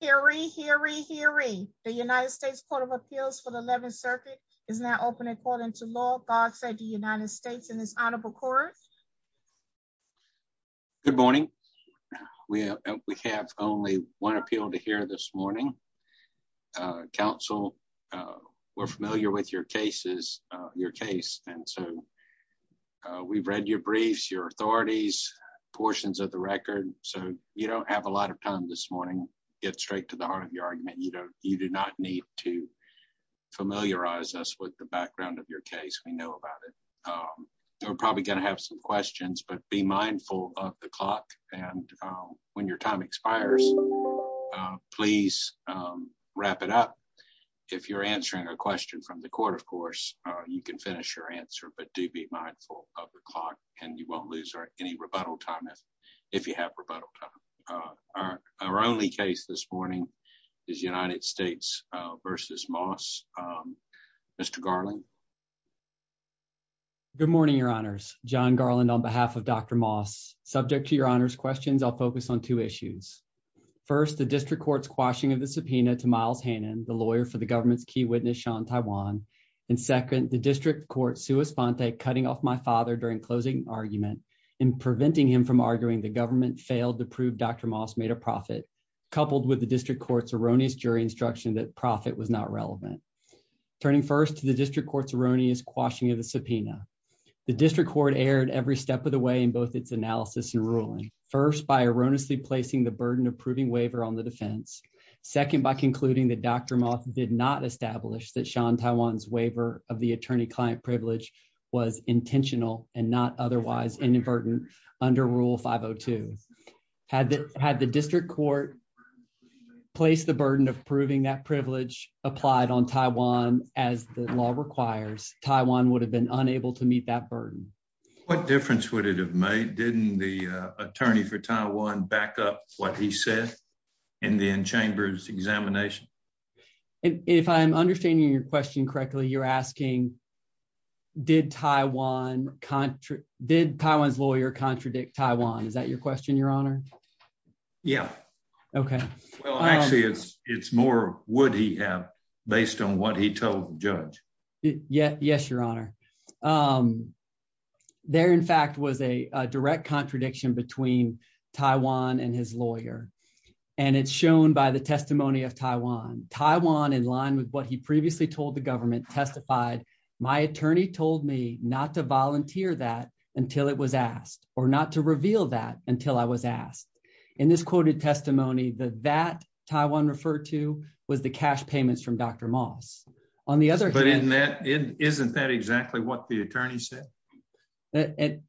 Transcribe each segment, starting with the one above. Hearing hearing hearing the United States Court of Appeals for the 11th Circuit is now open according to law. God said the United States in this honorable court. Good morning. We have only one appeal to hear this morning. Uh, council, uh, we're familiar with your cases, your case. And so, uh, we've read your briefs, your authorities, portions of the record. So you don't have a lot of time this morning. Get straight to the heart of your argument. You don't, you do not need to familiarize us with the background of your case. We know about it. Um, we're probably going to have some questions, but be mindful of the clock. And, um, when your time expires, please, um, wrap it up. If you're answering a question from the court, of course, you can finish your answer, but do be mindful of the clock and you won't lose any rebuttal time if, if you have rebuttal time. Uh, our only case this morning is United States versus Moss. Um, Mr Garland. Good morning, your honors. John Garland on behalf of Dr Moss subject to your honors questions. I'll focus on two issues. First, the district court's quashing of the subpoena to Miles Hannon, the lawyer for the government's witness, Sean Taiwan. And second, the district court, Sue Esponte, cutting off my father during closing argument and preventing him from arguing the government failed to prove Dr Moss made a profit coupled with the district court's erroneous jury instruction that profit was not relevant. Turning first to the district court's erroneous quashing of the subpoena. The district court aired every step of the way in both its analysis and ruling first by concluding that Dr Moss did not establish that Sean Taiwan's waiver of the attorney client privilege was intentional and not otherwise inadvertent under Rule 502. Had had the district court place the burden of proving that privilege applied on Taiwan as the law requires, Taiwan would have been unable to meet that burden. What difference would it have made? Didn't the attorney for Taiwan back up what he said in the in chambers examination? If I'm understanding your question correctly, you're asking, did Taiwan country? Did Taiwan's lawyer contradict Taiwan? Is that your question? Your honor? Yeah. Okay. Well, actually, it's it's more would he have based on what he told judge? Yes. Yes, your honor. Um, there in fact was a direct contradiction between Taiwan and his lawyer, and it's shown by the testimony of Taiwan Taiwan in line with what he previously told the government testified. My attorney told me not to volunteer that until it was asked or not to reveal that until I was asked in this quoted testimony that that Taiwan referred to was the cash payments from Dr Moss. On the other hand, isn't that exactly what the attorney said?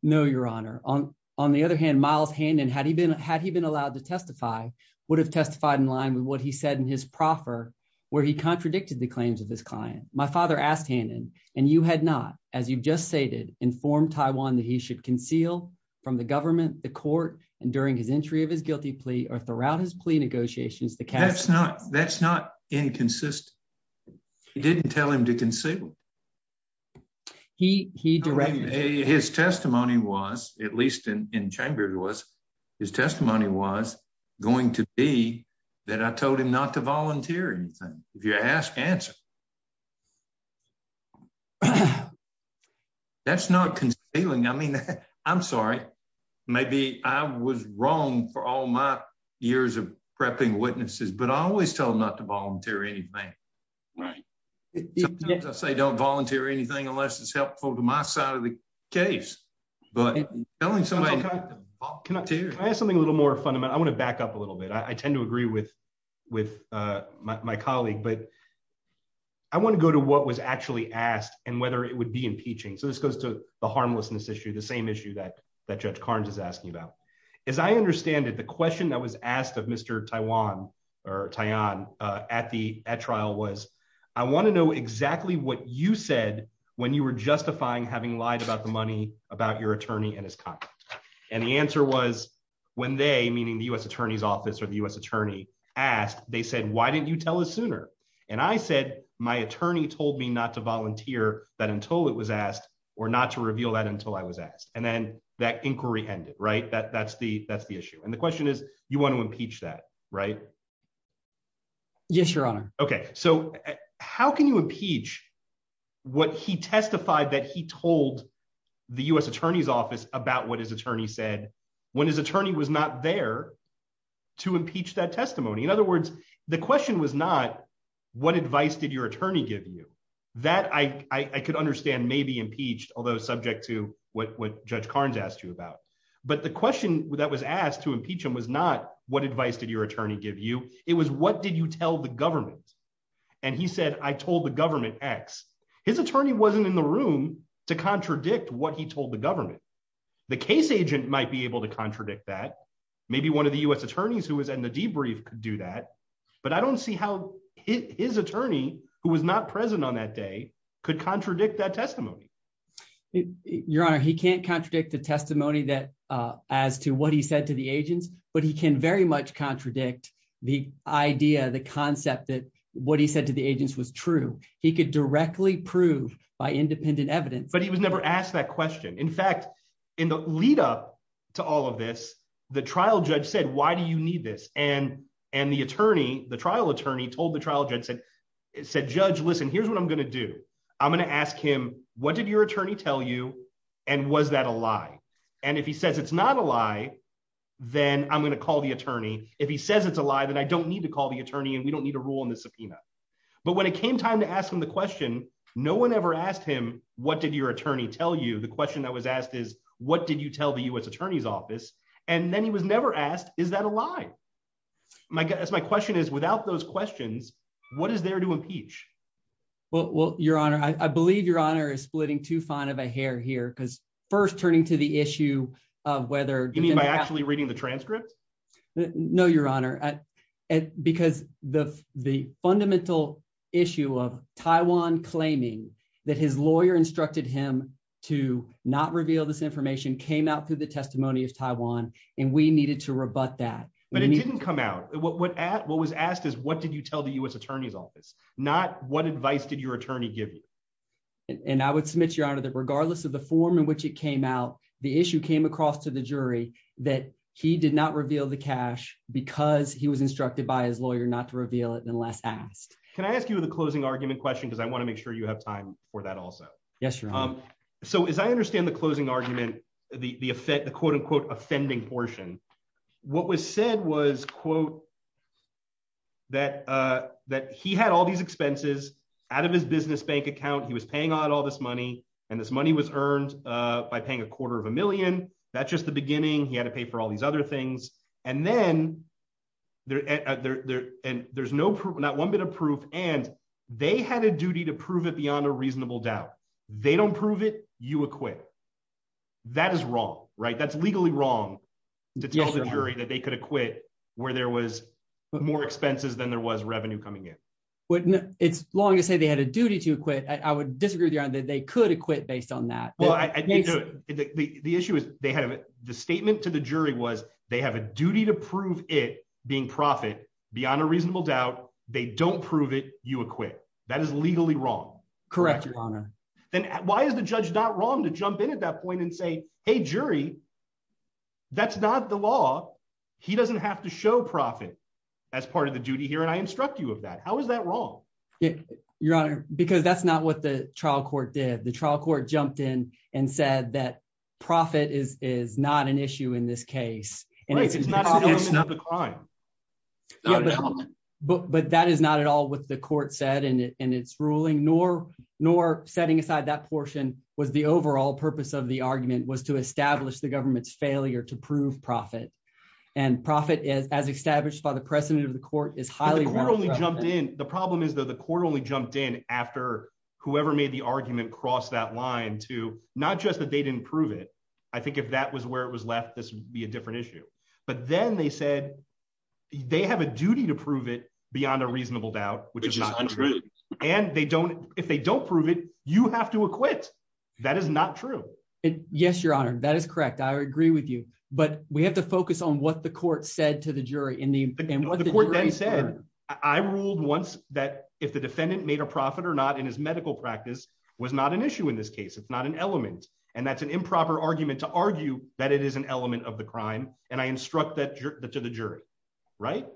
No, your honor. On the other hand, miles hand. And had he been had he been allowed to testify, would have testified in line with what he said in his proffer where he contradicted the claims of his client. My father asked him and you had not, as you just stated, informed Taiwan that he should conceal from the government, the court and during his entry of his guilty plea or throughout his plea negotiations. The cat's not that's not inconsistent. He didn't tell him to conceal. He he directed his testimony was, at least in in chambers was his testimony was going to be that. I told him not to volunteer anything. If you ask answer, yeah. Yeah, that's not concealing. I mean, I'm sorry. Maybe I was wrong for all my years of prepping witnesses, but I always tell not to volunteer anything. Right. I say don't volunteer anything unless it's helpful to my side of the case. But telling somebody I have something a little more fundamental. I want to back up a little bit. I tend to agree with with my colleague, but I want to go to what was actually asked and whether it would be impeaching. So this goes to the harmlessness issue, the same issue that that Judge Carnes is asking about. As I understand it, the question that was asked of Mr. Taiwan or tie on at the trial was I want to know exactly what you said when you were justifying having lied about the money about your attorney and his contract. And the answer was when they, meaning the U. S. Attorney's office or the U. S. Attorney asked, they said, Why didn't you tell us sooner? And I said, My attorney told me not to volunteer that until it was asked or not to reveal that until I was asked. And then that inquiry ended, right? That that's the that's the issue. And the question is, you want to impeach that, right? Yes, Your Honor. Okay, so how can you impeach what he testified that he told the U. S. Attorney's office about what his attorney said when his attorney was not there to impeach that testimony. In other words, the question was not what advice did your attorney give you that I could understand? Maybe impeached, although subject to what Judge Carnes asked you about. But the question that was asked to impeach him was not what advice did your attorney give you? It was what did you tell the government? And he said, I told the government X. His attorney wasn't in the room to contradict what he told the government. The case agent might be able to contradict that. Maybe one of the U. S. who was not present on that day could contradict that testimony. Your Honor, he can't contradict the testimony that as to what he said to the agents. But he can very much contradict the idea, the concept that what he said to the agents was true. He could directly prove by independent evidence. But he was never asked that question. In fact, in the lead up to all of this, the trial judge said, Why do you need this? And and the attorney, the trial attorney told the trial judge said, said, Judge, listen, here's what I'm gonna do. I'm gonna ask him. What did your attorney tell you? And was that a lie? And if he says it's not a lie, then I'm gonna call the attorney. If he says it's a lie, then I don't need to call the attorney, and we don't need a rule in the subpoena. But when it came time to ask him the question, no one ever asked him. What did your attorney tell you? The question that was asked is, What did you tell the U. S. Attorney's office? And then he was without those questions. What is there to impeach? Well, Your Honor, I believe Your Honor is splitting too fine of a hair here because first turning to the issue of whether you mean by actually reading the transcript? No, Your Honor, because the fundamental issue of Taiwan claiming that his lawyer instructed him to not reveal this information came out through the testimony of Taiwan, and we needed to rebut that. But it didn't come out. What what at what was asked is what did you tell the U. S. Attorney's office? Not what advice did your attorney give you? And I would submit your honor that regardless of the form in which it came out, the issue came across to the jury that he did not reveal the cash because he was instructed by his lawyer not to reveal it unless asked. Can I ask you the closing argument question? Because I want to make sure you have time for that. Also, yes. Um, so as I understand the closing argument, the effect, the quote offending portion. What was said was quote that, uh, that he had all these expenses out of his business bank account. He was paying out all this money, and this money was earned by paying a quarter of a million. That's just the beginning. He had to pay for all these other things. And then there and there's no proof. Not one bit of proof. And they had a duty to prove it beyond a reasonable doubt. They don't prove it. You acquit. That is wrong, right? That's legally wrong to tell the jury that they could acquit where there was more expenses than there was revenue coming in. Wouldn't it's long to say they had a duty to acquit. I would disagree that they could acquit based on that. The issue is they have the statement to the jury was they have a duty to prove it being profit beyond a reasonable doubt. They don't prove it. You acquit. That is legally wrong. Correct, Your wrong to jump in at that point and say, Hey, jury, that's not the law. He doesn't have to show profit as part of the duty here. And I instruct you of that. How is that wrong, Your Honor? Because that's not what the trial court did. The trial court jumped in and said that profit is is not an issue in this case, and it's not the crime, but but that is not at all what the court said. And it's ruling nor nor setting aside that portion was the overall purpose of the argument was to establish the government's failure to prove profit and profit is as established by the president of the court is highly morally jumped in. The problem is that the court only jumped in after whoever made the argument crossed that line to not just that they didn't prove it. I think if that was where it was left, this would be a different issue. But then they said they have a duty to prove it beyond a reasonable doubt, which is not true. And they don't. If they don't prove it, you have to acquit. That is not true. Yes, Your Honor. That is correct. I agree with you. But we have to focus on what the court said to the jury in the court. Then said, I ruled once that if the defendant made a profit or not in his medical practice was not an issue in this case, it's not an element. And that's an improper argument to argue that it is an element of the crime. And I instruct that to the jury, right?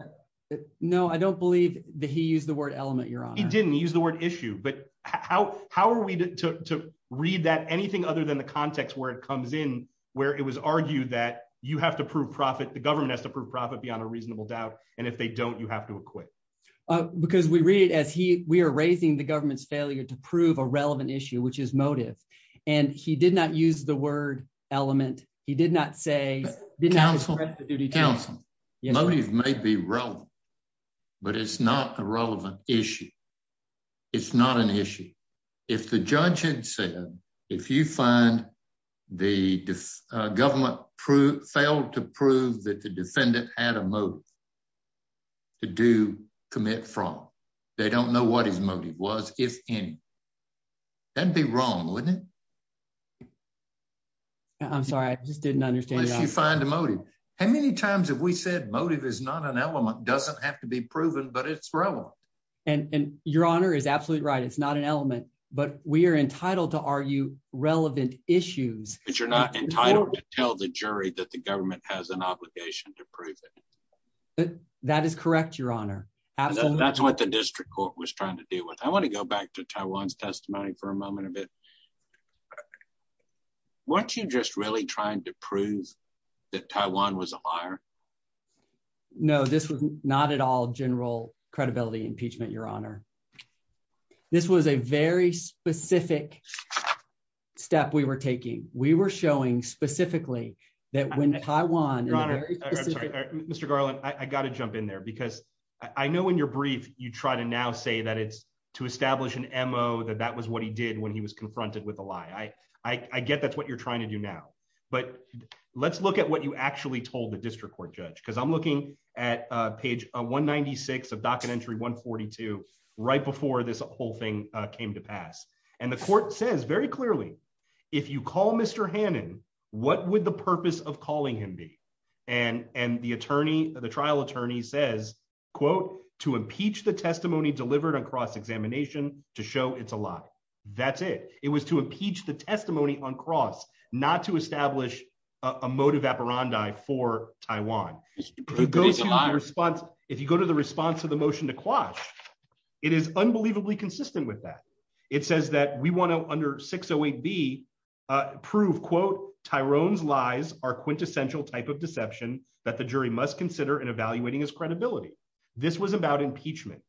No, I don't believe that he used the word element. You're on. He didn't use the word issue. But how? How are we to read that? Anything other than the context where it comes in, where it was argued that you have to prove profit. The government has to prove profit beyond a reasonable doubt. And if they don't, you have to acquit because we read as he we're raising the government's failure to prove a relevant issue, which is motive. And he motive may be relevant, but it's not a relevant issue. It's not an issue. If the judge had said, if you find the government failed to prove that the defendant had a motive to do commit fraud, they don't know what his motive was. If any, that'd be wrong, wouldn't it? I'm sorry. I just didn't understand. You find a motive. How many times have we said motive is not an element doesn't have to be proven, but it's relevant. And your honor is absolutely right. It's not an element, but we're entitled to argue relevant issues, but you're not entitled to tell the jury that the government has an obligation to prove it. That is correct. Your honor. Absolutely. That's what the district court was trying to deal with. I want to go back to Taiwan's testimony for a moment of it. Okay. Once you just really trying to prove that Taiwan was a liar. No, this was not at all general credibility impeachment, your honor. This was a very specific step we were taking. We were showing specifically that when Taiwan, your honor, Mr Garland, I got to jump in there because I know when you're brief, you try to now say that it's to establish an M. O. That that was what he did when he was confronted with a lie. I, I get that's what you're trying to do now, but let's look at what you actually told the district court judge because I'm looking at page 1 96 of docket entry 1 42 right before this whole thing came to pass. And the court says very clearly, if you call Mr Hannan, what would the purpose of calling him be? And, and the attorney, the trial attorney says, quote, to impeach the testimony delivered across examination to show it's a lie. That's it. It was to impeach the testimony on cross, not to establish a motive apparandi for Taiwan response. If you go to the response to the motion to quash, it is unbelievably consistent with that. It says that we want to under 608 B, uh, prove quote, Tyrone's lies are quintessential type of deception that the jury must consider in evaluating his credibility. This was about impeachment,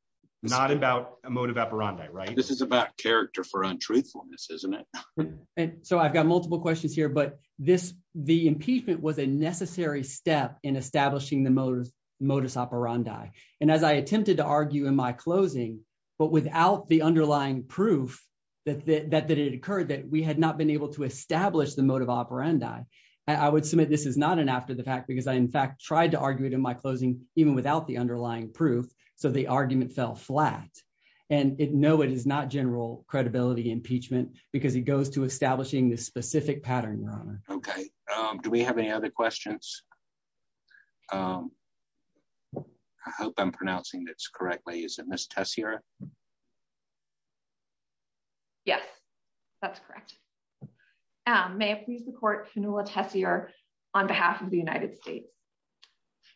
not about a motive apparandi, right? This is about character for untruthfulness, isn't it? And so I've got multiple questions here, but this, the impeachment was a necessary step in establishing the motorist modus operandi. And as I attempted to argue in my closing, but without the underlying proof that that that it occurred that we had not been able to establish the motive operandi, I would submit this is not an after the fact because I in fact tried to argue it in my closing, even without the underlying proof. So the argument fell flat and no, it is not general credibility impeachment because it goes to establishing this specific pattern. You're on. Okay. Um, do we have any other questions? Um, I hope I'm pronouncing this correctly. Isn't this test here? Yes, that's correct. Um, may I please report canola test here on behalf of the United States?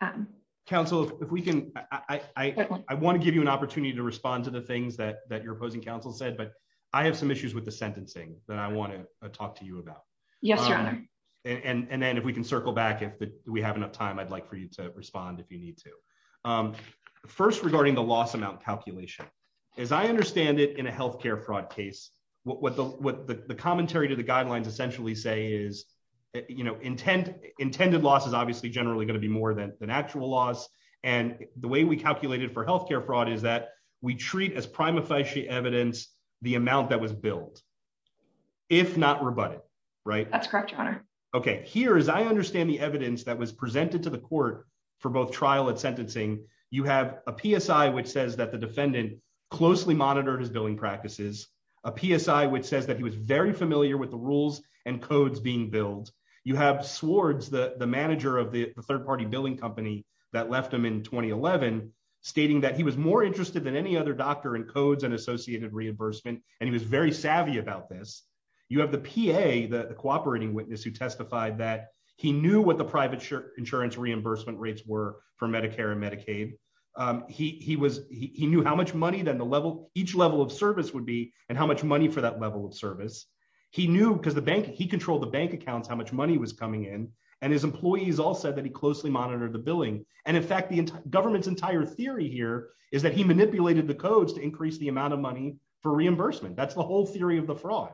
Um, council, if we can, I want to give you an opportunity to respond to the things that that you're opposing council said, but I have some issues with the sentencing that I want to talk to you about. Yes, your honor. And then if we can circle back, if we have enough time, I'd like for you to respond if you need to. Um, first, regarding the loss amount calculation, as I understand it in a health care fraud case, what the commentary to the guidelines essentially say is, you know, intent intended loss is obviously generally going to be more than an actual loss. And the way we calculated for health care fraud is that we treat as prima facie evidence the amount that was billed if not rebutted, right? That's correct. Okay. Here is I understand the evidence that was presented to the court for both trial and sentencing. You have a P. S. I. Which says that the defendant closely monitored his billing practices a P. S. I. Which says that he was very familiar with the rules and practices of health care fraud. You have the manager of the third party billing company that left him in 2011, stating that he was more interested than any other doctor in codes and associated reimbursement, and he was very savvy about this. You have the P. A. The cooperating witness who testified that he knew what the private insurance reimbursement rates were for Medicare and Medicaid. He was he knew how much money than the level each level of service would be and how much money for that level of service. He knew because the bank he controlled the bank accounts how much money was coming in, and his employees all said that he closely monitored the billing. And in fact, the government's entire theory here is that he manipulated the codes to increase the amount of money for reimbursement. That's the whole theory of the fraud.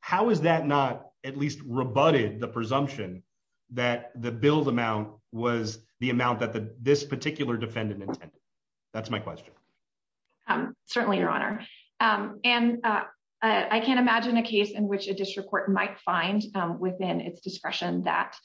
How is that not at least rebutted the presumption that the build amount was the amount that this particular defendant intended? That's my question. Um, certainly your honor. Um, and I can't imagine a case in which a district court might find within its discretion that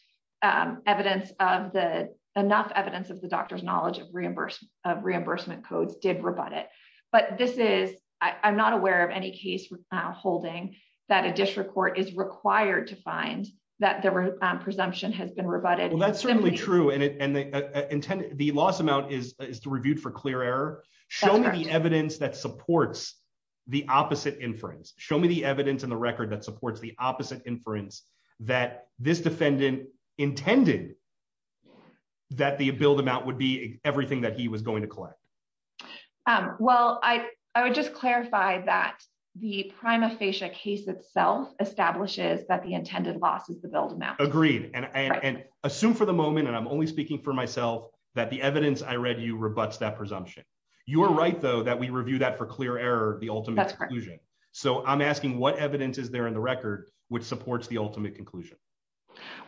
evidence of the enough evidence of the doctor's knowledge of reimbursement of reimbursement codes did rebut it. But this is I'm not aware of any case holding that a district court is required to find that the presumption has been rebutted. That's certainly true, and the intended the loss amount is reviewed for clear Show me the evidence that supports the opposite inference. Show me the evidence in the record that supports the opposite inference that this defendant intended that the build amount would be everything that he was going to collect. Um, well, I would just clarify that the prima facie case itself establishes that the intended loss is the build amount agreed and assume for the moment, and I'm only speaking for myself that the evidence I You're right, though, that we review that for clear error. The ultimate conclusion. So I'm asking what evidence is there in the record which supports the ultimate conclusion?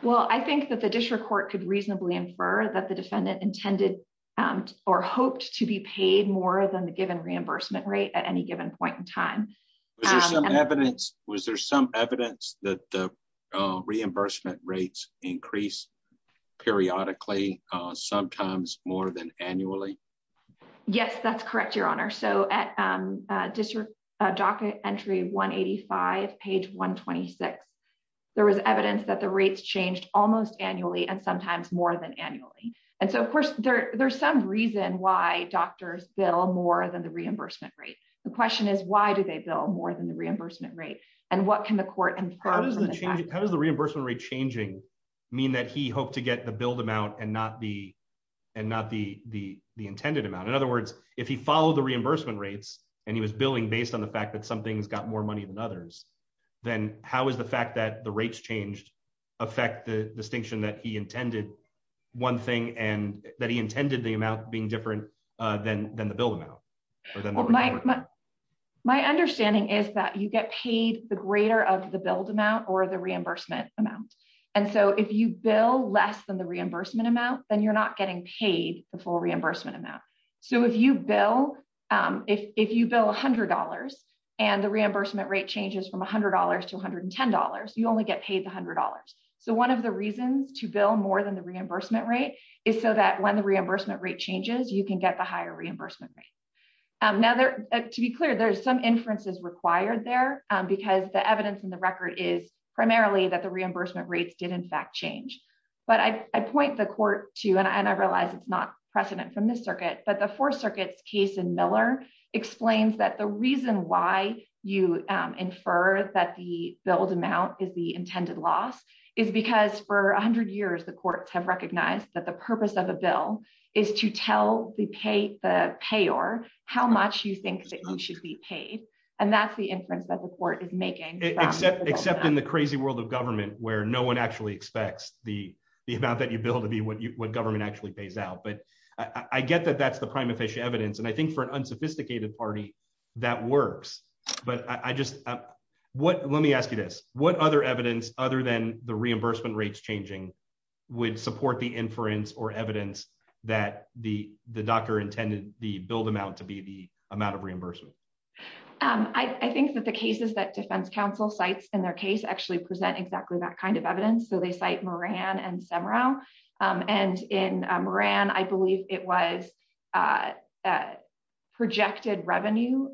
Well, I think that the district court could reasonably infer that the defendant intended or hoped to be paid more than the given reimbursement rate at any given point in time. Was there some evidence that reimbursement rates increase periodically, sometimes more than annually? Yes, that's correct, Your Honor. So at district docket entry 1 85 page 1 26, there was evidence that the rates changed almost annually and sometimes more than annually. And so, of course, there's some reason why doctors bill more than the reimbursement rate. The question is, why do they bill more than the reimbursement rate? And what can the court and how does the reimbursement rate changing mean that he hoped to the intended amount? In other words, if he followed the reimbursement rates and he was building based on the fact that something's got more money than others, then how is the fact that the rates changed affect the distinction that he intended one thing and that he intended the amount being different than than the bill amount? My understanding is that you get paid the greater of the build amount or the reimbursement amount. And so if you bill less than the reimbursement amount, then you're not getting paid the full reimbursement amount. So if you bill if you bill $100 and the reimbursement rate changes from $100 to $110, you only get paid $100. So one of the reasons to bill more than the reimbursement rate is so that when the reimbursement rate changes, you can get the higher reimbursement rate. Now, there to be clear, there's some inferences required there because the evidence in the record is primarily that the reimbursement rates did, in But I point the court to and I realize it's not precedent from this circuit, but the four circuits case in Miller explains that the reason why you infer that the build amount is the intended loss is because for 100 years, the courts have recognized that the purpose of a bill is to tell the pay the payor how much you think that you should be paid. And that's the inference that the court is making, except except in the crazy world of government where no one actually expects the amount that you build to be what you what government actually pays out. But I get that that's the prime official evidence. And I think for an unsophisticated party, that works. But I just what let me ask you this, what other evidence other than the reimbursement rates changing, would support the inference or evidence that the doctor intended the build amount to be the amount of reimbursement? I think that the cases that defense counsel sites in their case actually present exactly that kind of evidence. So they cite Moran and Semra. And in Moran, I believe it was a projected revenue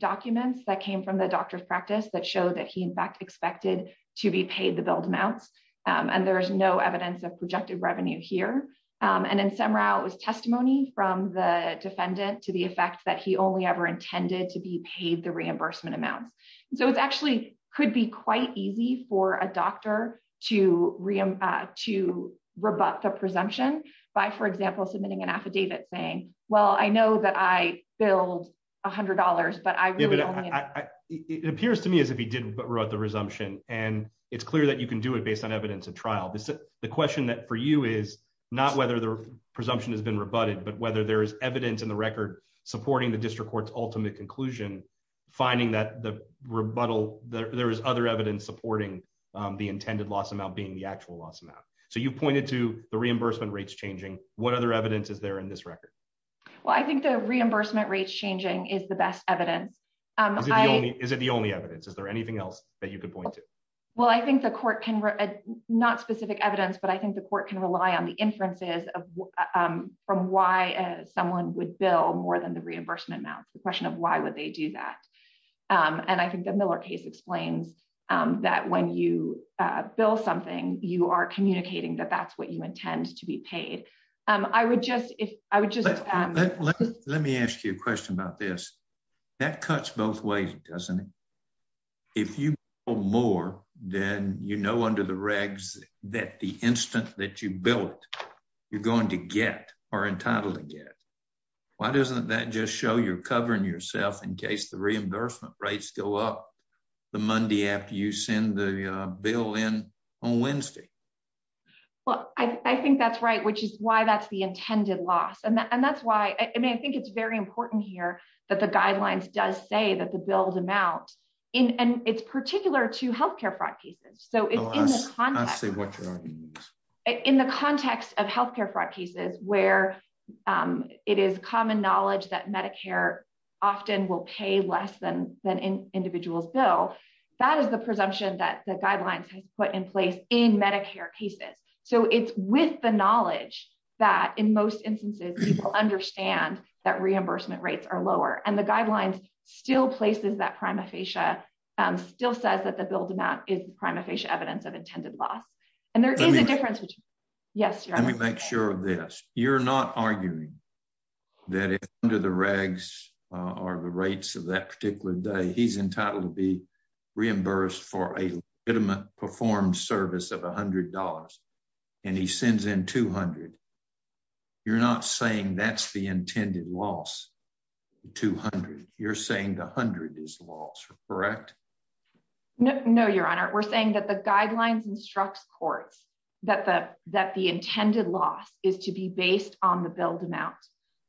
documents that came from the doctor's practice that showed that he in fact expected to be paid the build amounts. And there's no evidence of projected revenue here. And then somehow it was testimony from the defendant to the effect that he only ever intended to be paid the reimbursement amounts. So it's actually could be quite easy for a doctor to re to rebut the presumption by, for example, submitting an affidavit saying, well, I know that I build $100. But I it appears to me as if he did, but wrote the resumption. And it's clear that you can do it based on evidence of trial. This is the question that for you is not whether the presumption has been rebutted, but whether there is evidence in the record supporting the district court's ultimate conclusion, finding that the rebuttal that there is other evidence supporting the intended loss amount being the actual loss amount. So you pointed to the reimbursement rates changing. What other evidence is there in this record? Well, I think the reimbursement rates changing is the best evidence. Is it the only evidence? Is there anything else that you could point to? Well, I think the court can not specific evidence, but I think the court can rely on the inferences from why someone would bill more than the reimbursement amount. The question of why would they do that? And I think the Miller case explains that when you bill something, you are communicating that that's what you intend to be paid. I would just if I would just let me ask you a question about this. That cuts both ways, doesn't it? If you more than you know, under the you're going to get are entitled to get. Why doesn't that just show you're covering yourself in case the reimbursement rates go up the Monday after you send the bill in on Wednesday? Well, I think that's right, which is why that's the intended loss. And that's why I mean, I think it's very important here that the guidelines does say that the bills amount in and it's particular to health care fraud cases. So in the in the context of health care fraud cases where it is common knowledge that Medicare often will pay less than an individual's bill, that is the presumption that the guidelines has put in place in Medicare cases. So it's with the knowledge that in most instances people understand that reimbursement rates are lower and the guidelines still places that prima facie still says that build amount is prima facie evidence of intended loss. And there is a difference. Yes, let me make sure of this. You're not arguing that under the regs are the rates of that particular day, he's entitled to be reimbursed for a bit of a performed service of $100. And he sends in 200. You're not saying that's the intended loss. 200. You're saying 100 is lost, correct? No, no, Your Honor. We're saying that the guidelines instructs courts that the that the intended loss is to be based on the build amount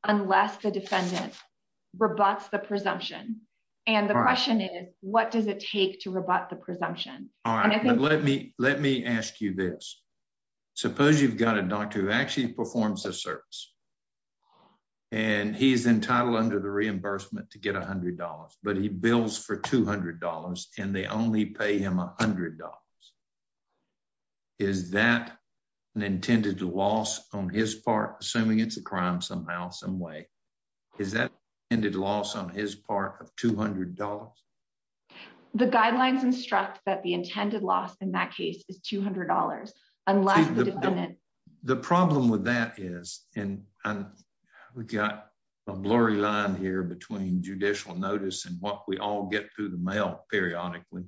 unless the defendant rebuts the presumption. And the question is, what does it take to rebut the presumption? All right, let me let me ask you this. Suppose you've got a doctor who actually performs a service and he's entitled under the reimbursement to get $100. But he bills for $200 and they only pay him $100. Is that an intended loss on his part? Assuming it's a crime somehow some way is that ended loss on his part of $200. The guidelines instruct that the intended loss in that case is $200. Unless the defendant, the problem with that is and we got a blurry line here between judicial notice and what we all get through the mail periodically,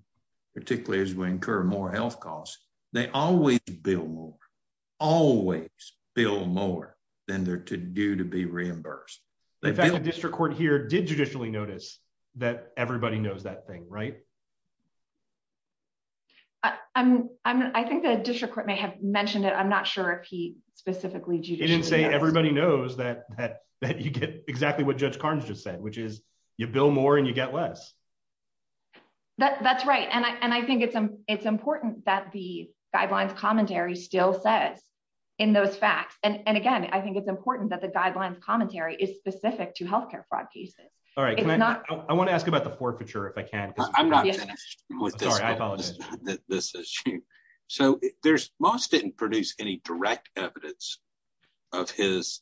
particularly as we incur more health costs. They always bill more, always bill more than they're due to be reimbursed. District Court here did judicially notice that everybody knows that thing, right? I'm I think the district court may have mentioned it. I'm not sure if he specifically didn't say everybody knows that you get exactly what Judge Barnes just said, which is you bill more and you get less. That's right. And I think it's important that the guidelines commentary still says in those facts. And again, I think it's important that the guidelines commentary is specific to health care fraud cases. All right. I want to ask about the forfeiture if I can. I'm not finished with this. This is so there's most didn't produce any direct evidence of his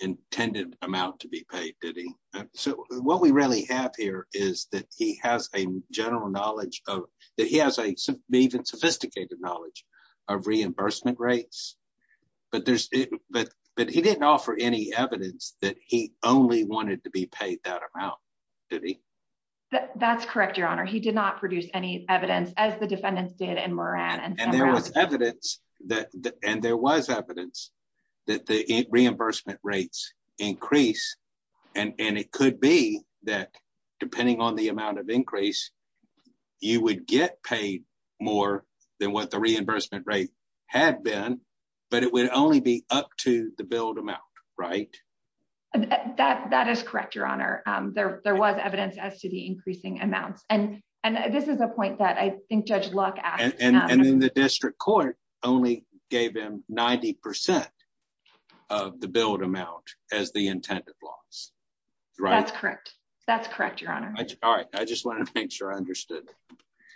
intended amount to be paid, did he? So what we really have here is that he has a general knowledge of that. He has a even sophisticated knowledge of reimbursement rates, but there's but but he didn't offer any evidence that he only wanted to be paid that amount. Did he? That's correct, Your Honor. He did not produce any evidence as the defendants did in Moran, and there was evidence that and there was evidence that the reimbursement rates increase. And it could be that, depending on the amount of increase, you would get paid more than what the reimbursement rate had been. But it would only be up to the build amount, right? That that is correct, Your Honor. There was evidence as to the increasing amounts. And and this is a point that I think Judge Luck and the district court only gave him 90% of the build amount as the intended loss. That's correct. That's correct, Your Honor. All right. I just want to make sure I understood.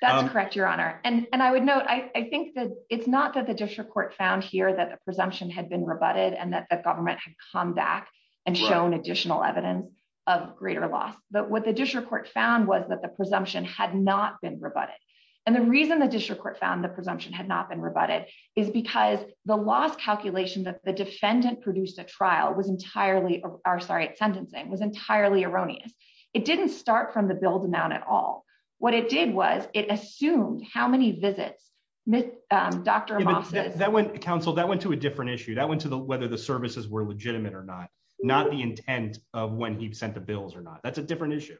That's correct, Your Honor. And and I would note, I think that it's not that the district court found here that the presumption had been rebutted and that the government had come back and shown additional evidence of greater loss. But what the district court found was that the presumption had not been rebutted. And the reason the district court found the presumption had not been rebutted is because the last calculation that the defendant produced a trial was entirely our sorry, it's sentencing was entirely erroneous. It didn't start from the build amount at all. What it did was it assumed how many visits Dr Moss's that went council that went to a different issue that went to the whether the services were legitimate or not, not the intent of when he sent the bills or not. That's a different issue.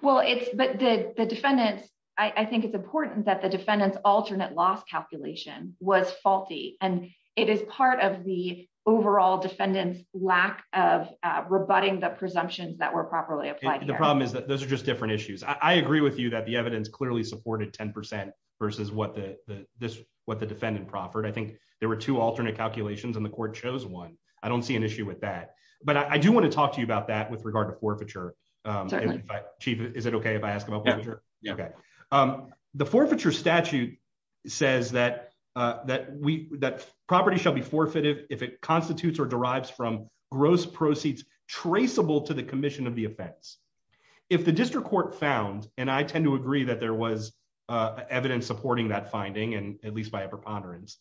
Well, it's the defendants. I think it's important that the defendant's alternate loss calculation was faulty and it is part of the overall defendant's lack of rebutting the presumptions that were properly applied. The problem is that those are just different issues. I agree with you that the evidence clearly supported 10% versus what the what the defendant proffered. I think there were two alternate calculations and the court chose one. I don't see an issue with that, but I do want to talk to you about that with regard to forfeiture. Chief, is it okay if I ask him after? Okay. Um, the forfeiture statute says that, uh, that we that property shall be forfeited if it constitutes or derives from gross proceeds traceable to the commission of the offense. If the district court found and I tend to agree that there was evidence supporting that finding, and at least by a preponderance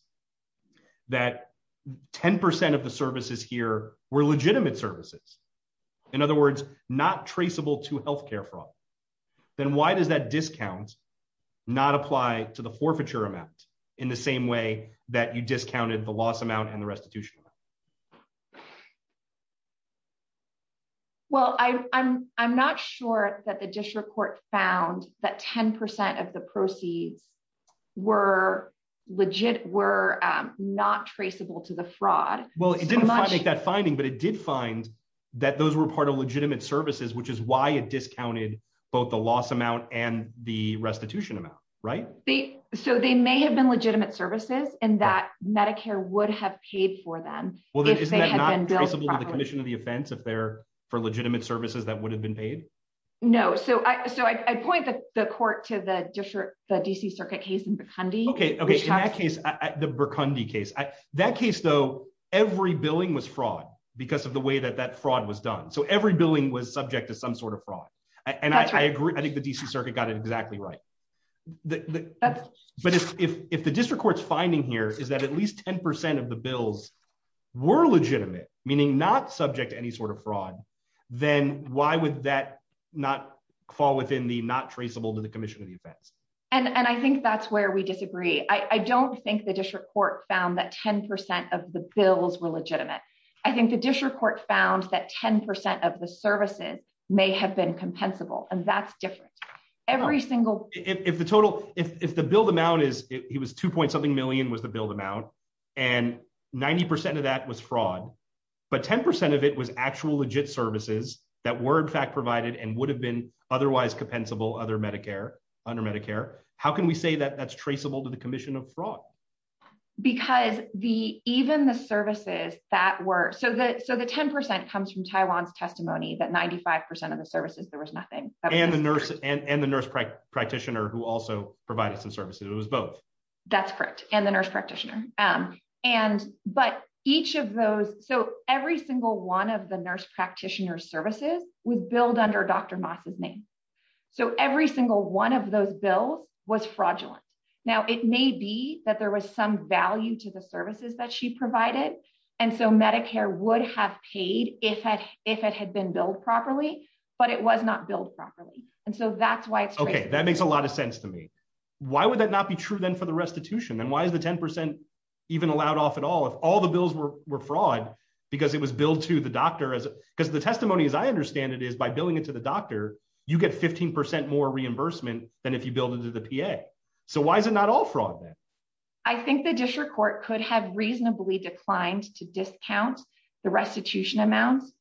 that 10% of the traceable to health care fraud. Then why does that discount not apply to the forfeiture amount in the same way that you discounted the loss amount and the restitution? Well, I'm I'm not sure that the district court found that 10% of the proceeds were legit were not traceable to the fraud. Well, it didn't make that finding, but it did find that those were part of legitimate services, which is why it discounted both the loss amount and the restitution amount, right? So they may have been legitimate services and that Medicare would have paid for them. Well, that is not traceable to the commission of the offense if they're for legitimate services that would have been paid. No. So I so I point the court to the district, the D. C. Circuit case in Bikundi. Okay. Okay. In that case, the Bikundi case that case, though, every billing was fraud because of the way that that fraud was done. So every billing was subject to some sort of fraud. And I agree. I think the D. C. Circuit got it exactly right. But if the district court's finding here is that at least 10% of the bills were legitimate, meaning not subject to any sort of fraud, then why would that not fall within the not traceable to the commission of the offense? And I think that's where we disagree. I don't think the district court found that 10% of the bills were legitimate. I think the services may have been compensable, and that's different. Every single if the total if the build amount is he was two point something million was the build amount, and 90% of that was fraud. But 10% of it was actual legit services that word fact provided and would have been otherwise compensable other Medicare under Medicare. How can we say that that's traceable to the commission of fraud? Because the even the services that were so that so the 10% comes from Taiwan's testimony that 95% of the services there was nothing and the nurse and the nurse practitioner who also provided some services. It was both. That's correct. And the nurse practitioner. Um, and but each of those so every single one of the nurse practitioner services with build under Dr Moss's name. So every single one of those bills was fraudulent. Now it may be that there was some value to the services that she provided. And so Medicare would have paid if it if it had been built properly, but it was not built properly. And so that's why it's okay. That makes a lot of sense to me. Why would that not be true then for the restitution? And why is the 10% even allowed off at all? If all the bills were fraud because it was built to the doctor as because the testimony as I understand it is by building it to the doctor, you get 15% more reimbursement than if you build into the P. A. So why is it not all fraud? I think the district court could have reasonably declined to discount the restitution amounts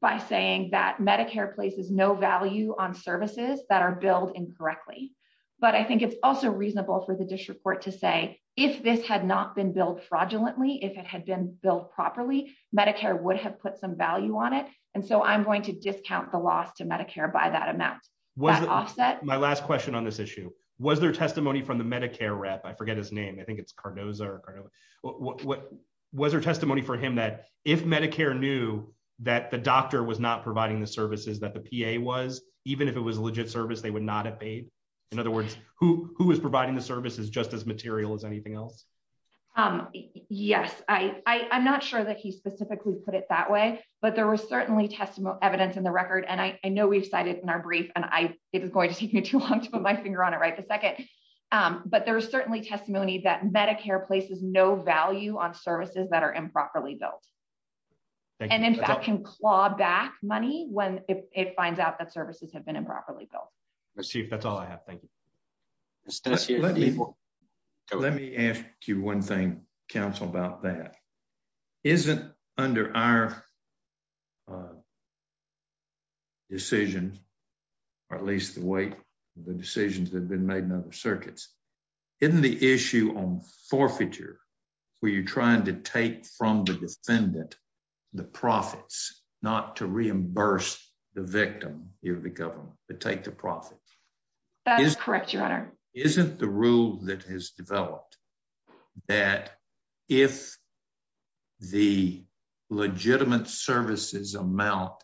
by saying that Medicare places no value on services that are built incorrectly. But I think it's also reasonable for the district court to say if this had not been built fraudulently, if it had been built properly, Medicare would have put some value on it. And so I'm going to discount the loss to Medicare by that amount was offset. My last question on this issue was their testimony from the was her testimony for him that if Medicare knew that the doctor was not providing the services that the P. A. Was even if it was a legit service, they would not have paid. In other words, who who is providing the services just as material as anything else? Um, yes, I I'm not sure that he specifically put it that way, but there was certainly testimony evidence in the record, and I know we've cited in our brief, and I it was going to take me too long to put my finger on it right the second. Um, but there was certainly testimony that Medicare places no value on services that are improperly built and, in fact, can claw back money when it finds out that services have been improperly built. Let's see if that's all I have. Thank you. Let me let me ask you one thing. Council about that isn't under our uh decisions, or at least the way the decisions have been made in other circuits in the issue on forfeiture, where you're trying to take from the defendant the profits not to reimburse the victim of the government to take the profit. That is correct. Your honor isn't the rule that has developed that if the legitimate services amount mhm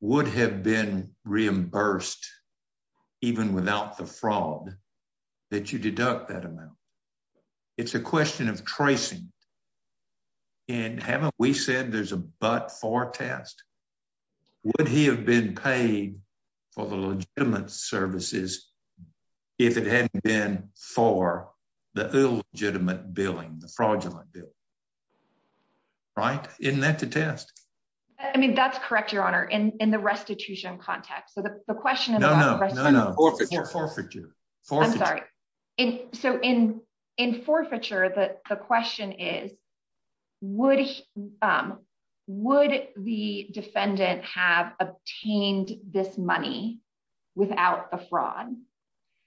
would have been reimbursed even without the fraud that you deduct that amount. It's a question of tracing. And haven't we said there's a but for test? Would he have been paid for the legitimate services if it hadn't been for the illegitimate billing the fraudulent bill right? Isn't that the test? I mean, that's correct. Your honor in the restitution context. So the question is no, no, no, no forfeiture. I'm sorry. So in in forfeiture, the question is, would um, would the defendant have obtained this money without the fraud?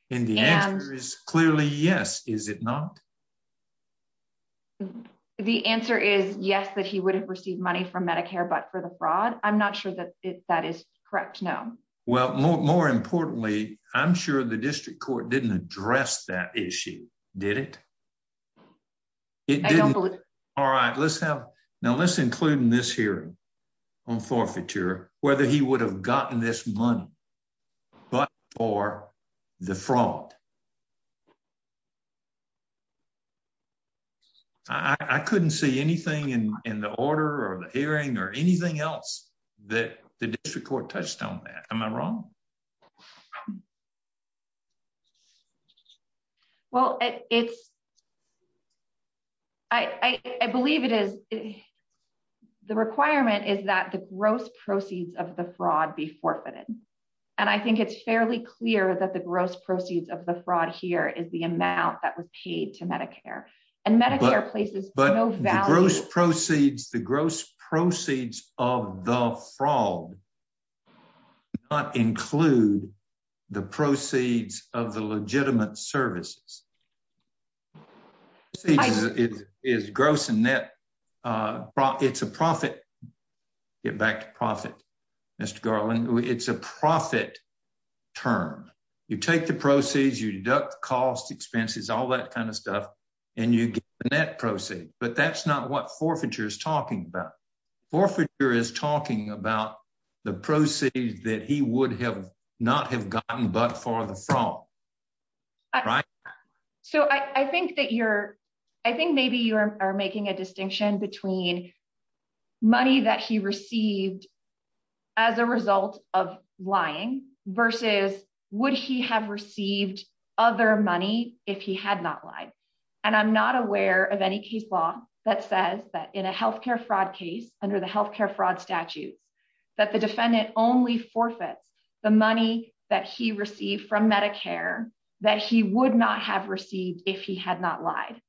And the answer is clearly yes. Is it not? Mhm. The answer is yes, that he would have received money from Medicare, but for the fraud. I'm not sure that that is correct. No. Well, more importantly, I'm sure the district court didn't address that issue, did it? It didn't. All right, let's have now. Let's include in this hearing on forfeiture whether he would have gotten this money but for the fraud. I couldn't see anything in the order or the hearing or anything else that the district court touched on that. Am I wrong? Well, it's I believe it is. The requirement is that the gross proceeds of the fraud be forfeited. And I think it's fairly clear that the gross proceeds of the and Medicare places, but gross proceeds, the gross proceeds of the fraud not include the proceeds of the legitimate services. It is gross and net. Uh, it's a profit. Get back to profit, Mr Garland. It's a profit term. You take the proceeds, you deduct cost expenses, all that kind of and you get that proceed. But that's not what forfeiture is talking about. Forfeiture is talking about the proceeds that he would have not have gotten. But for the fall, right? So I think that you're I think maybe you are making a distinction between money that he received as a result of lying versus would he have received other money if he had not lied? And I'm not aware of any case law that says that in a health care fraud case under the health care fraud statutes that the defendant only forfeits the money that he received from Medicare that he would not have received if he had not lied.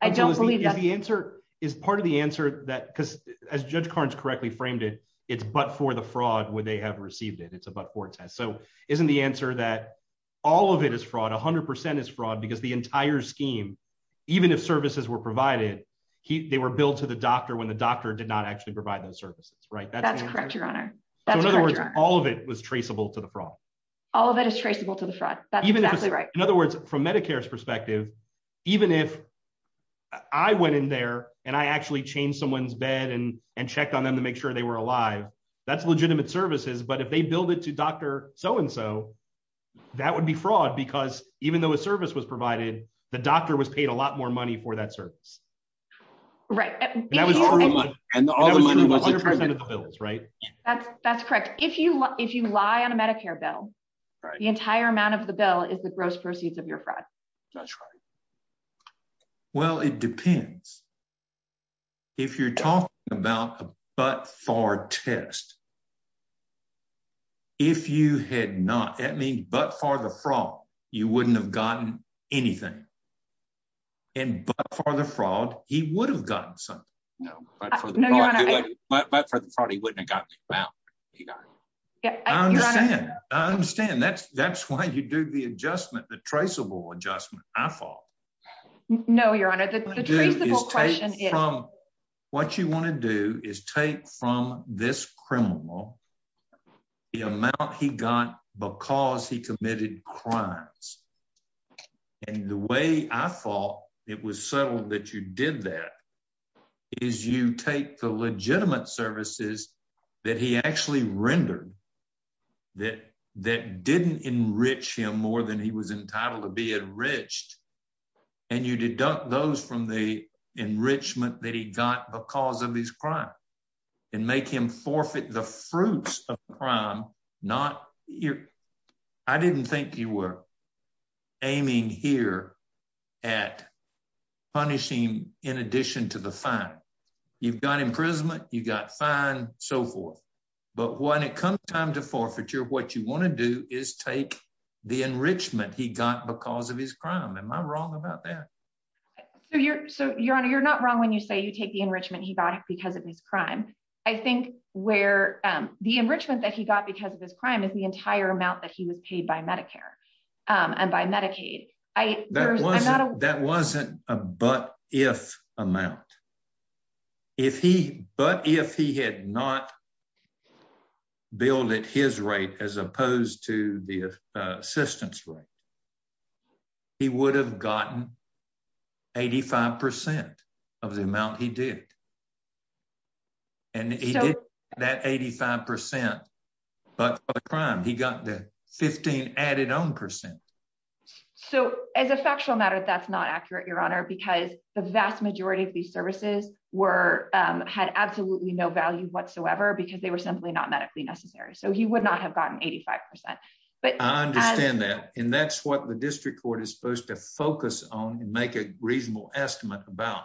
I don't believe the answer is part of the answer that because as Judge Carnes correctly framed it, it's but for the fraud where they have received it. It's but for test. So isn't the answer that all of it is fraud? 100% is fraud because the entire scheme, even if services were provided, they were billed to the doctor when the doctor did not actually provide those services, right? That's correct. Your honor. In other words, all of it was traceable to the fraud. All of it is traceable to the fraud. That's even exactly right. In other words, from Medicare's perspective, even if I went in there and I actually changed someone's bed and and checked on them to make sure they were alive, that's legitimate services. But if they build it to doctor, so and so, that would be fraud because even though a service was provided, the doctor was paid a lot more money for that service. Right. That was true. And all the money was 100% of the bills, right? That's correct. If you if you lie on a Medicare bill, the entire amount of the bill is the gross proceeds of your fraud. That's right. Well, it depends. If you're talking about a but for test, if you had not at me but for the fraud, you wouldn't have gotten anything and but for the fraud, he would have gotten something. No, but for the but for the fraud, he wouldn't have gotten it. Wow. Yeah, I understand. I understand. That's that's why you do the adjustment. The traceable adjustment. I fall. No, your honor. The traceable question is from what you want to do is take from this criminal the amount he got because he committed crimes. And the way I thought it was settled that you did that is you take the legitimate services that he actually rendered that that didn't enrich him more than he was entitled to be enriched. And you deduct those from the enrichment that he got because of his crime and make him forfeit the fruits of crime. Not you. I didn't think you were aiming here at punishing in addition to the fact you've got imprisonment, you got fine so forth. But when it comes time to forfeiture, what you want to do is take the enrichment he got because of his crime. Am I wrong about that? So you're so your honor, you're not wrong when you say you take the enrichment he got because of his crime. I think where the enrichment that he got because of his crime is the entire amount that he was paid by Medicare and by Medicaid. That wasn't a but if amount if he but if he had not billed at his rate as opposed to the assistance right, he would have gotten 85% of the amount he did. And he did that 85% but crime. He got the 15 added on percent. So as a factual matter, that's not accurate, Your Honor, because the vast majority of these services were had absolutely no value whatsoever because they were simply not medically necessary. So he would not have gotten 85%. But I understand that. And that's what the district court is supposed to focus on and make a reasonable estimate about.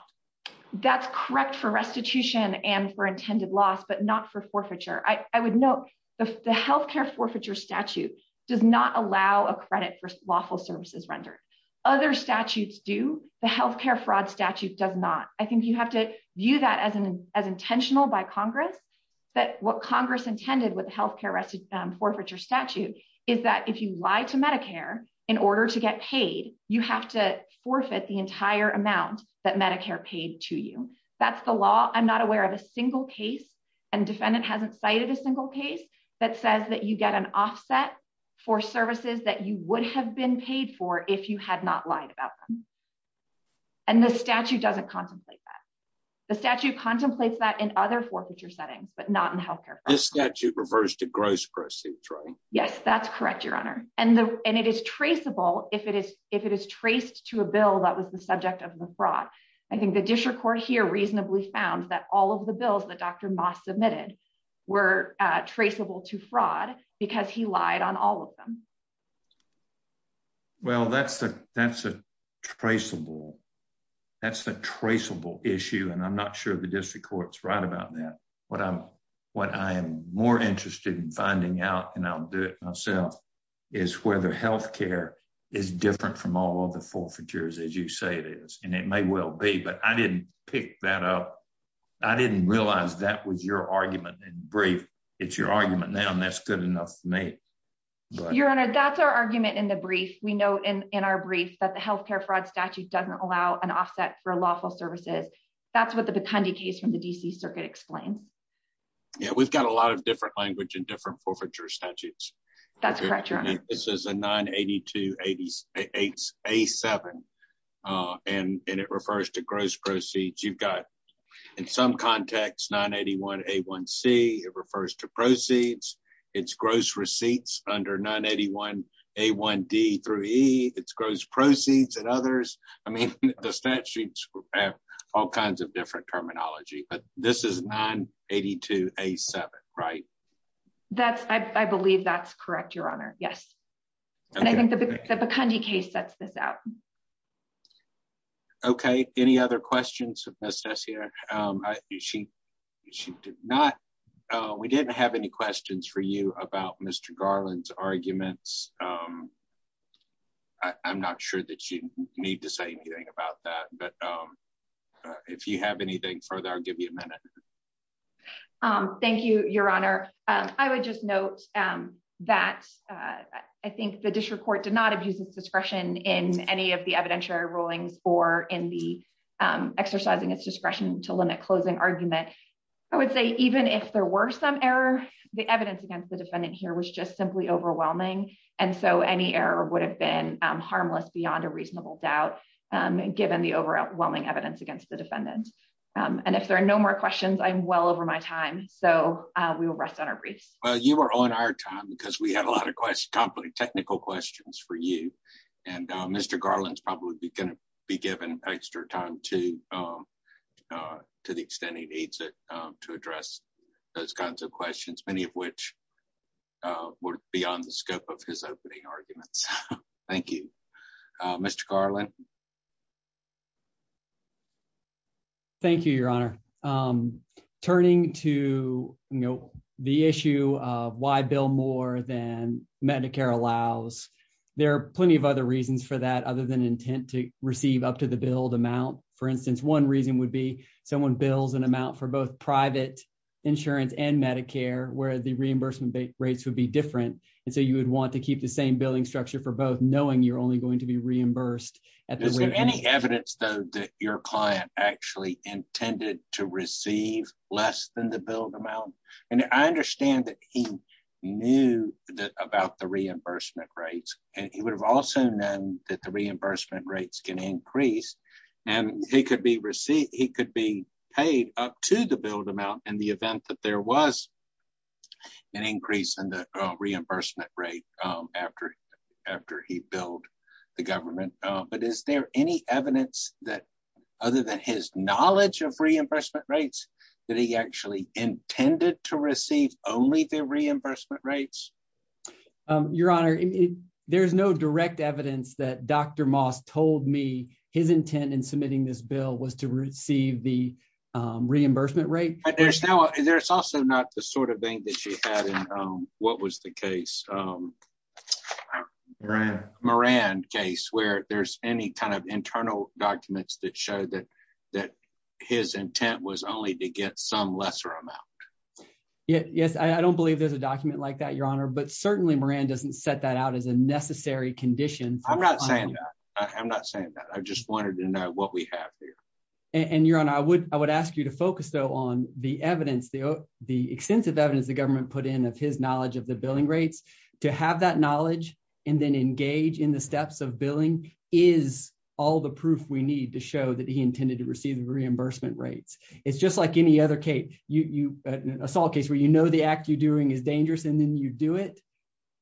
That's correct for restitution and for intended loss, but not for forfeiture. I would note the health care forfeiture statute does not allow a credit for lawful services rendered. Other statutes do. The health care fraud statute does not. I think you have to view that as as intentional by Congress that what Congress intended with the health care residue forfeiture statute is that if you lie to Medicare in order to get paid, you have to forfeit the entire amount that Medicare paid to you. That's the law. I'm not aware of a single case and defendant hasn't cited a single case that says that you get an offset for services that you would have been paid for if you had not lied about them. And the statute doesn't contemplate that the statute contemplates that in other forfeiture settings, but not in health care. This statute reversed a gross proceeds, right? Yes, that's correct, Your Honor. And and it is traceable. If it is, if it is traced to a bill that was the subject of the fraud, I think the district court here reasonably found that all of the bills that Dr Moss submitted were traceable to fraud because he lied on all of them. Mhm. Well, that's that's a traceable. That's a traceable issue. And I'm not sure the district court's right about that. What I'm what I am more interested in finding out and I'll do it myself is whether health care is different from all of the forfeitures as you say it is. And it may well be. But I didn't pick that up. I didn't realize that was your argument in brief. It's your argument now and that's good enough for me. You're on a that's our argument in the brief. We know in our brief that the health care fraud statute doesn't allow an offset for lawful services. That's what the Bikundi case from the D. C. Circuit explains. Yeah, we've got a lot of different language in different forfeiture statutes. That's correct. Your honor. This is a 982 88 a seven. Uh and it refers to gross proceeds. You've got in some context 981 a one C. It refers to proceeds. It's gross receipts under 981 a one D through E. It's gross proceeds and others. I mean the statutes have all kinds of different terminology. But this is 982 a seven right? That's I believe that's correct. Your honor. Yes. And I think the the Bikundi case sets this out. Okay. Any other questions of this test here? Um she she did not. Uh we didn't have any questions for you about Mr Garland's arguments. Um I'm not sure that you need to say anything about that. But um if you have anything further, I'll give you a minute. Um thank you. Your honor. I would just note um that I think the district court did not abuse its discretion in any of the evidentiary rulings or in the exercising its discretion to limit closing argument. I would say even if there were some error, the evidence against the defendant here was just simply overwhelming. And so any error would have been harmless beyond a reasonable doubt. Um given the overwhelming evidence against the defendant. Um and if there are no more questions, I'm well over my time. So we will rest on our briefs. Well, you were on our time because we had a lot of questions, technical questions for you and Mr Garland's probably going to be given extra time to um uh to the extent he needs it to address those kinds of questions, many of which uh were beyond the scope of his opening arguments. Thank you Mr Garland. Thank you, your honor. Um turning to you know the issue of why bill more than medicare allows. There are plenty of other reasons for that other than intent to receive up to the build amount. For instance, one reason would be someone builds an amount for both private insurance and medicare where the reimbursement rates would be different. And so you would want to keep the same building structure for both knowing you're only going to be reimbursed at any evidence though that your client actually intended to receive less than the build amount. And I understand that he knew that about the reimbursement rates and he would have also known that the reimbursement rates can increase and he could be received, he could be paid up to the build amount in the event that there was an increase in the reimbursement rate after after he built the government. But is there any evidence that other than his knowledge of reimbursement rates that he actually intended to receive only the reimbursement rates? Your honor, there is no direct evidence that dr moss told me his intent in submitting this bill was to receive the reimbursement rate. But there's no, there's also not the sort of thing that she had in what was the case? Um Yeah. Moran case where there's any kind of internal documents that show that that his intent was only to get some lesser amount. Yes. I don't believe there's a document like that your honor. But certainly Moran doesn't set that out as a necessary condition. I'm not saying that. I'm not saying that. I just wanted to know what we have here. And your honor, I would, I would ask you to focus though on the evidence, the extensive evidence the government put in of his knowledge of the billing rates to have that knowledge and then engage in the steps of billing is all the proof we need to show that he intended to receive the reimbursement rates. It's just like any other case you assault case where you know the act you're doing is dangerous and then you do it,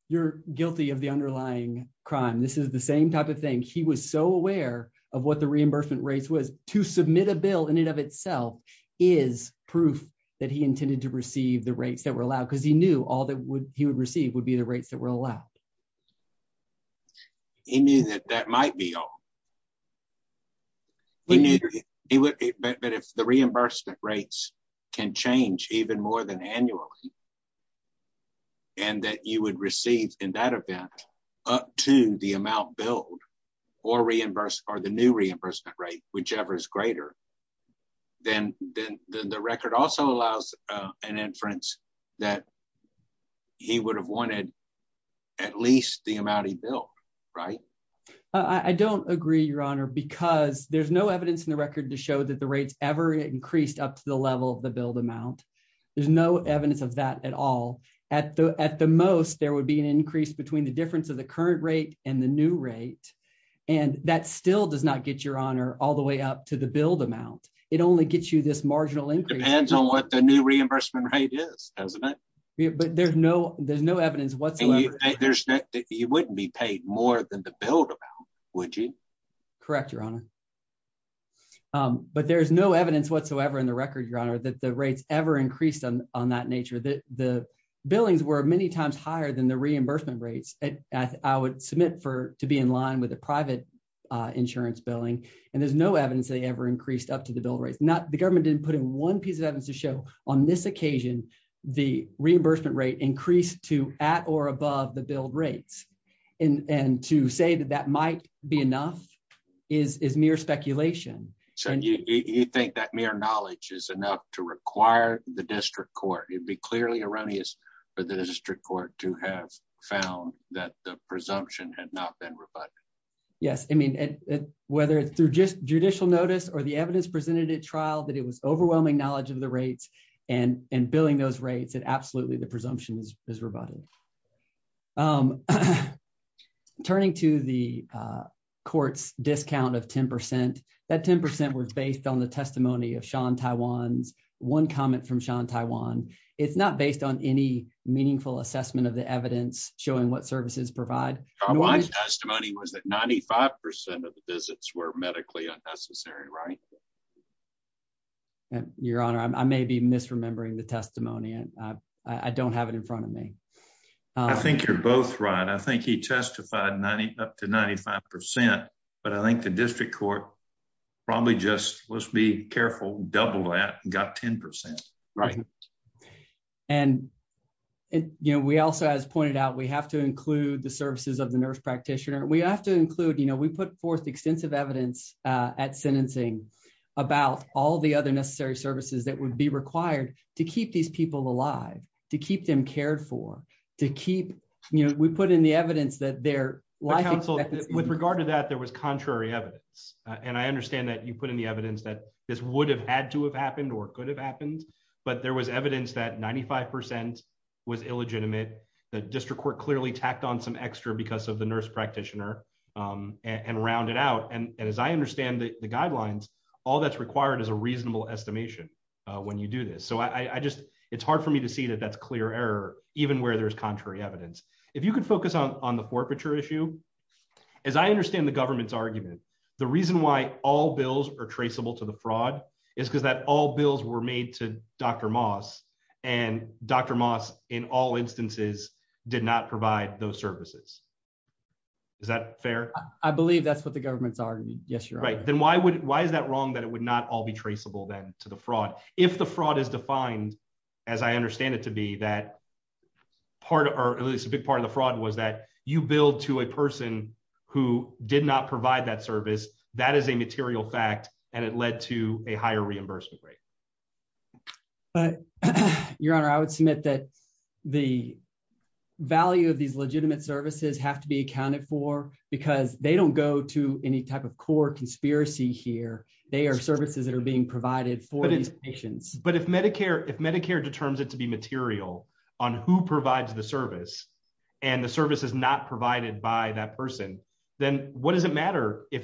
you're guilty of the underlying crime. This is the same type of thing. He was so aware of what the reimbursement rates was to submit a bill in and of itself is proof that he intended to receive the rates that were allowed because he knew all that would he would receive would be the rates that were allowed. He knew that that might be all we need. But if the reimbursement rates can change even more than annually and that you would receive in that event up to the amount billed or reimbursed or the new reimbursement rate, whichever is greater, then the record also allows an inference that he would have wanted at least the amount he built, right? I don't agree, Your Honor, because there's no evidence in the record to show that the rates ever increased up to the level of the build amount. There's no evidence of that at all. At the most, there would be an increase between the difference of the current rate and the new rate. And that still does not get your honor all the way up to the build amount. It only gets you this marginal increase depends on what the new reimbursement rate is, doesn't it? But there's no, there's no evidence there's that you wouldn't be paid more than the build amount, would you? Correct, Your Honor. Um, but there's no evidence whatsoever in the record, Your Honor, that the rates ever increased on on that nature that the billings were many times higher than the reimbursement rates. I would submit for to be in line with the private insurance billing and there's no evidence they ever increased up to the bill rates. Not the government didn't put in one piece of evidence to show on this occasion the reimbursement rate increased to at or above the build rates and to say that that might be enough is is mere speculation. So you think that mere knowledge is enough to require the district court? It would be clearly erroneous for the district court to have found that the presumption had not been rebutted. Yes. I mean, whether it's through just judicial notice or the evidence presented at trial, that it was overwhelming knowledge of the rates and and billing those rates that absolutely the presumptions is rebutted. Um, turning to the court's discount of 10% that 10% was based on the testimony of Sean Taiwan's one comment from Sean Taiwan. It's not based on any meaningful assessment of the evidence showing what services provide. My testimony was that 95% of the visits were medically unnecessary, right? Your honor, I may be misremembering the testimony. I don't have it in front of me. I think you're both right. I think he testified 90 up to 95%. But I think the district court probably just let's be careful. Double that got 10%. Right. And, you know, we also, as pointed out, we have to include the services of the nurse practitioner. We have to include, you know, we put forth extensive evidence at sentencing about all the other necessary services that would be required to keep these people alive, to keep them cared for, to keep, you know, we put in the evidence that their life counsel with regard to that there was contrary evidence. And I understand that you put in the evidence that this would have had to have happened or could have happened. But there was evidence that 95% was illegitimate. The district court clearly tacked on some extra because of the nurse practitioner, um, and rounded out. And as I understand the guidelines, all that's required is a reasonable estimation when you do this. So I just it's hard for me to see that that's clear error, even where there's contrary evidence. If you could focus on on the forfeiture issue, as I understand the government's argument, the reason why all bills are traceable to the fraud is because that all bills were made to Dr Moss and Dr Moss in all services. Is that fair? I believe that's what the government's are. Yes, you're right. Then why would why is that wrong? That it would not all be traceable then to the fraud. If the fraud is defined, as I understand it to be that part or at least a big part of the fraud was that you build to a person who did not provide that service. That is a material fact, and it led to a higher reimbursement rate. But, Your Honor, I would submit that the value of these legitimate services have to be accounted for because they don't go to any type of core conspiracy here. They are services that are being provided for these patients. But if Medicare, if Medicare determines it to be material on who provides the service and the service is not provided by that person, then what does it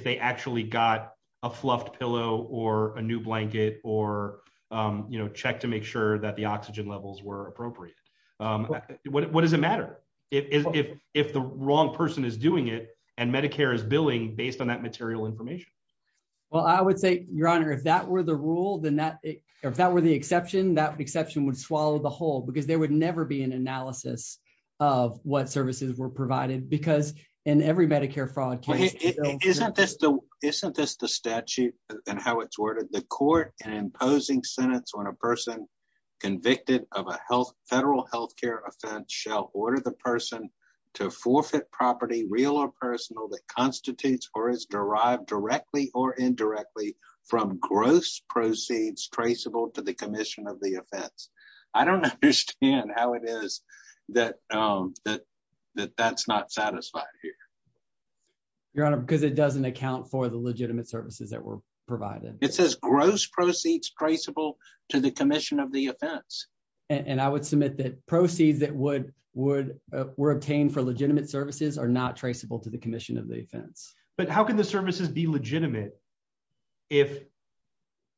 you know, check to make sure that the oxygen levels were appropriate? What does it matter if if the wrong person is doing it and Medicare is billing based on that material information? Well, I would say, Your Honor, if that were the rule, then that if that were the exception, that exception would swallow the whole because there would never be an analysis of what services were provided because in every Medicare fraud case, isn't this the isn't this the statute and how it's worded the court and imposing sentence on a person convicted of a health federal health care offense shall order the person to forfeit property real or personal that constitutes or is derived directly or indirectly from gross proceeds traceable to the commission of the offense. I don't understand how it is that, um, that that that's not satisfied here. Your Honor, because it doesn't account for the legitimate services that were provided. It says gross proceeds traceable to the commission of the offense. And I would submit that proceeds that would would were obtained for legitimate services are not traceable to the commission of the offense. But how can the services be legitimate if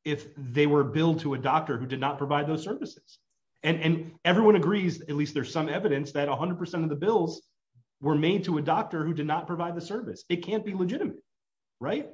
if they were billed to a doctor who did not provide those services? And everyone agrees, at least there's some evidence that 100% of the bills were made to a doctor who did not provide the service. It can't be legitimate, right?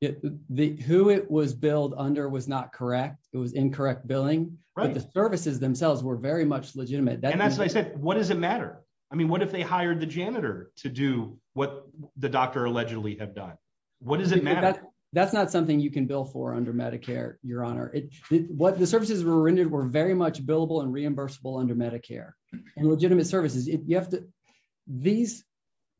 The who it was billed under was not correct. It was incorrect billing, but the services themselves were very much legitimate. That's what I said. What does it matter? I mean, what if they hired the janitor to do what the doctor allegedly have done? What does it matter? That's not something you can bill for under Medicare, Your Honor. What the services were rendered were very much billable and reimbursable under Medicare and legitimate services. You have to these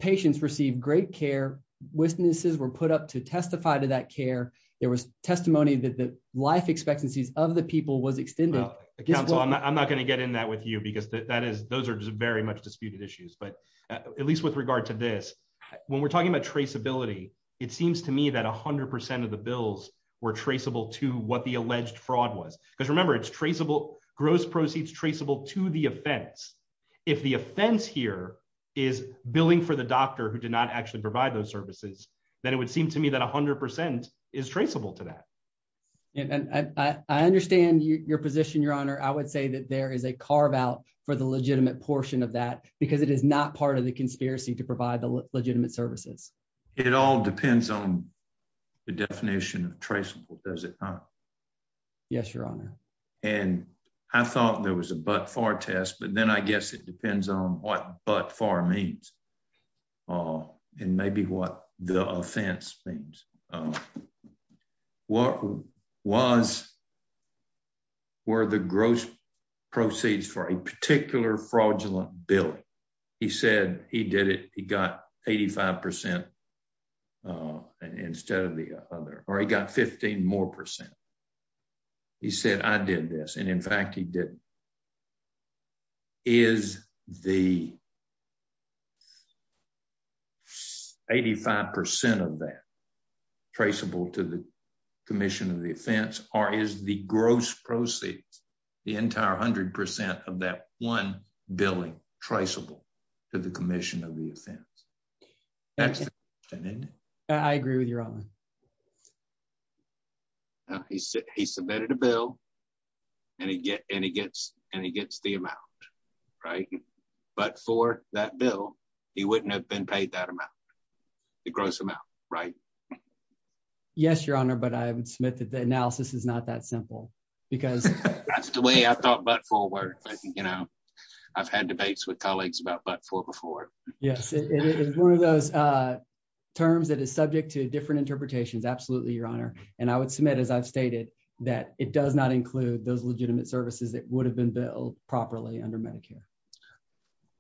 patients receive great care. Witnesses were put up to testify to that care. There was testimony that the life expectancies of the people was extended. I'm not going to get in that with you because that is those are just very much disputed issues. But at least with regard to this, when we're talking about traceability, it seems to me that 100% of the bills were traceable to what the alleged fraud was. Because remember, it's traceable gross proceeds traceable to the offense. If the offense here is billing for the doctor who did not actually provide those services, then it would seem to me that 100% is traceable to that. And I understand your position, Your Honor. I would say that there is a carve out for the legitimate portion of that because it is not part of the conspiracy to provide the legitimate services. It all depends on the definition of traceable. Does it? Yes, Your Honor. And I thought there was a butt far test, but then I guess it all and maybe what the offense means. Um, what was where the gross proceeds for a particular fraudulent billing? He said he did it. He got 85% uh, instead of the other or he got 15 more percent. He said, I did this. And in fact, he did. Is the 85% of that traceable to the commission of the offense? Or is the gross proceeds the entire 100% of that one billing traceable to the commission of the offense? That's I agree with you, Robin. He said he submitted a bill and he gets and he gets the amount right. But for that bill, he wouldn't have been paid that amount. It grows them out, right? Yes, Your Honor. But I would submit that the analysis is not that simple because that's the way I thought. But forward, you know, I've had debates with colleagues about but for before. Yes, it is one of those, uh, terms that is subject to different interpretations. Absolutely, Your Honor. And I would submit, as I've stated, that it does not include those legitimate services that would have been billed properly under Medicare.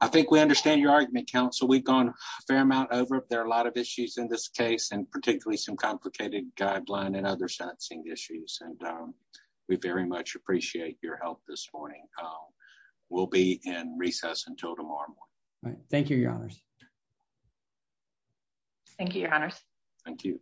I think we understand your argument. Council. We've gone a fair amount over. There are a lot of issues in this case and particularly some complicated guideline and other sensing issues. And, um, we very much appreciate your help this morning. We'll be in recess until tomorrow. Thank you, Your Honors. Thank you, Your Honor. Thank you.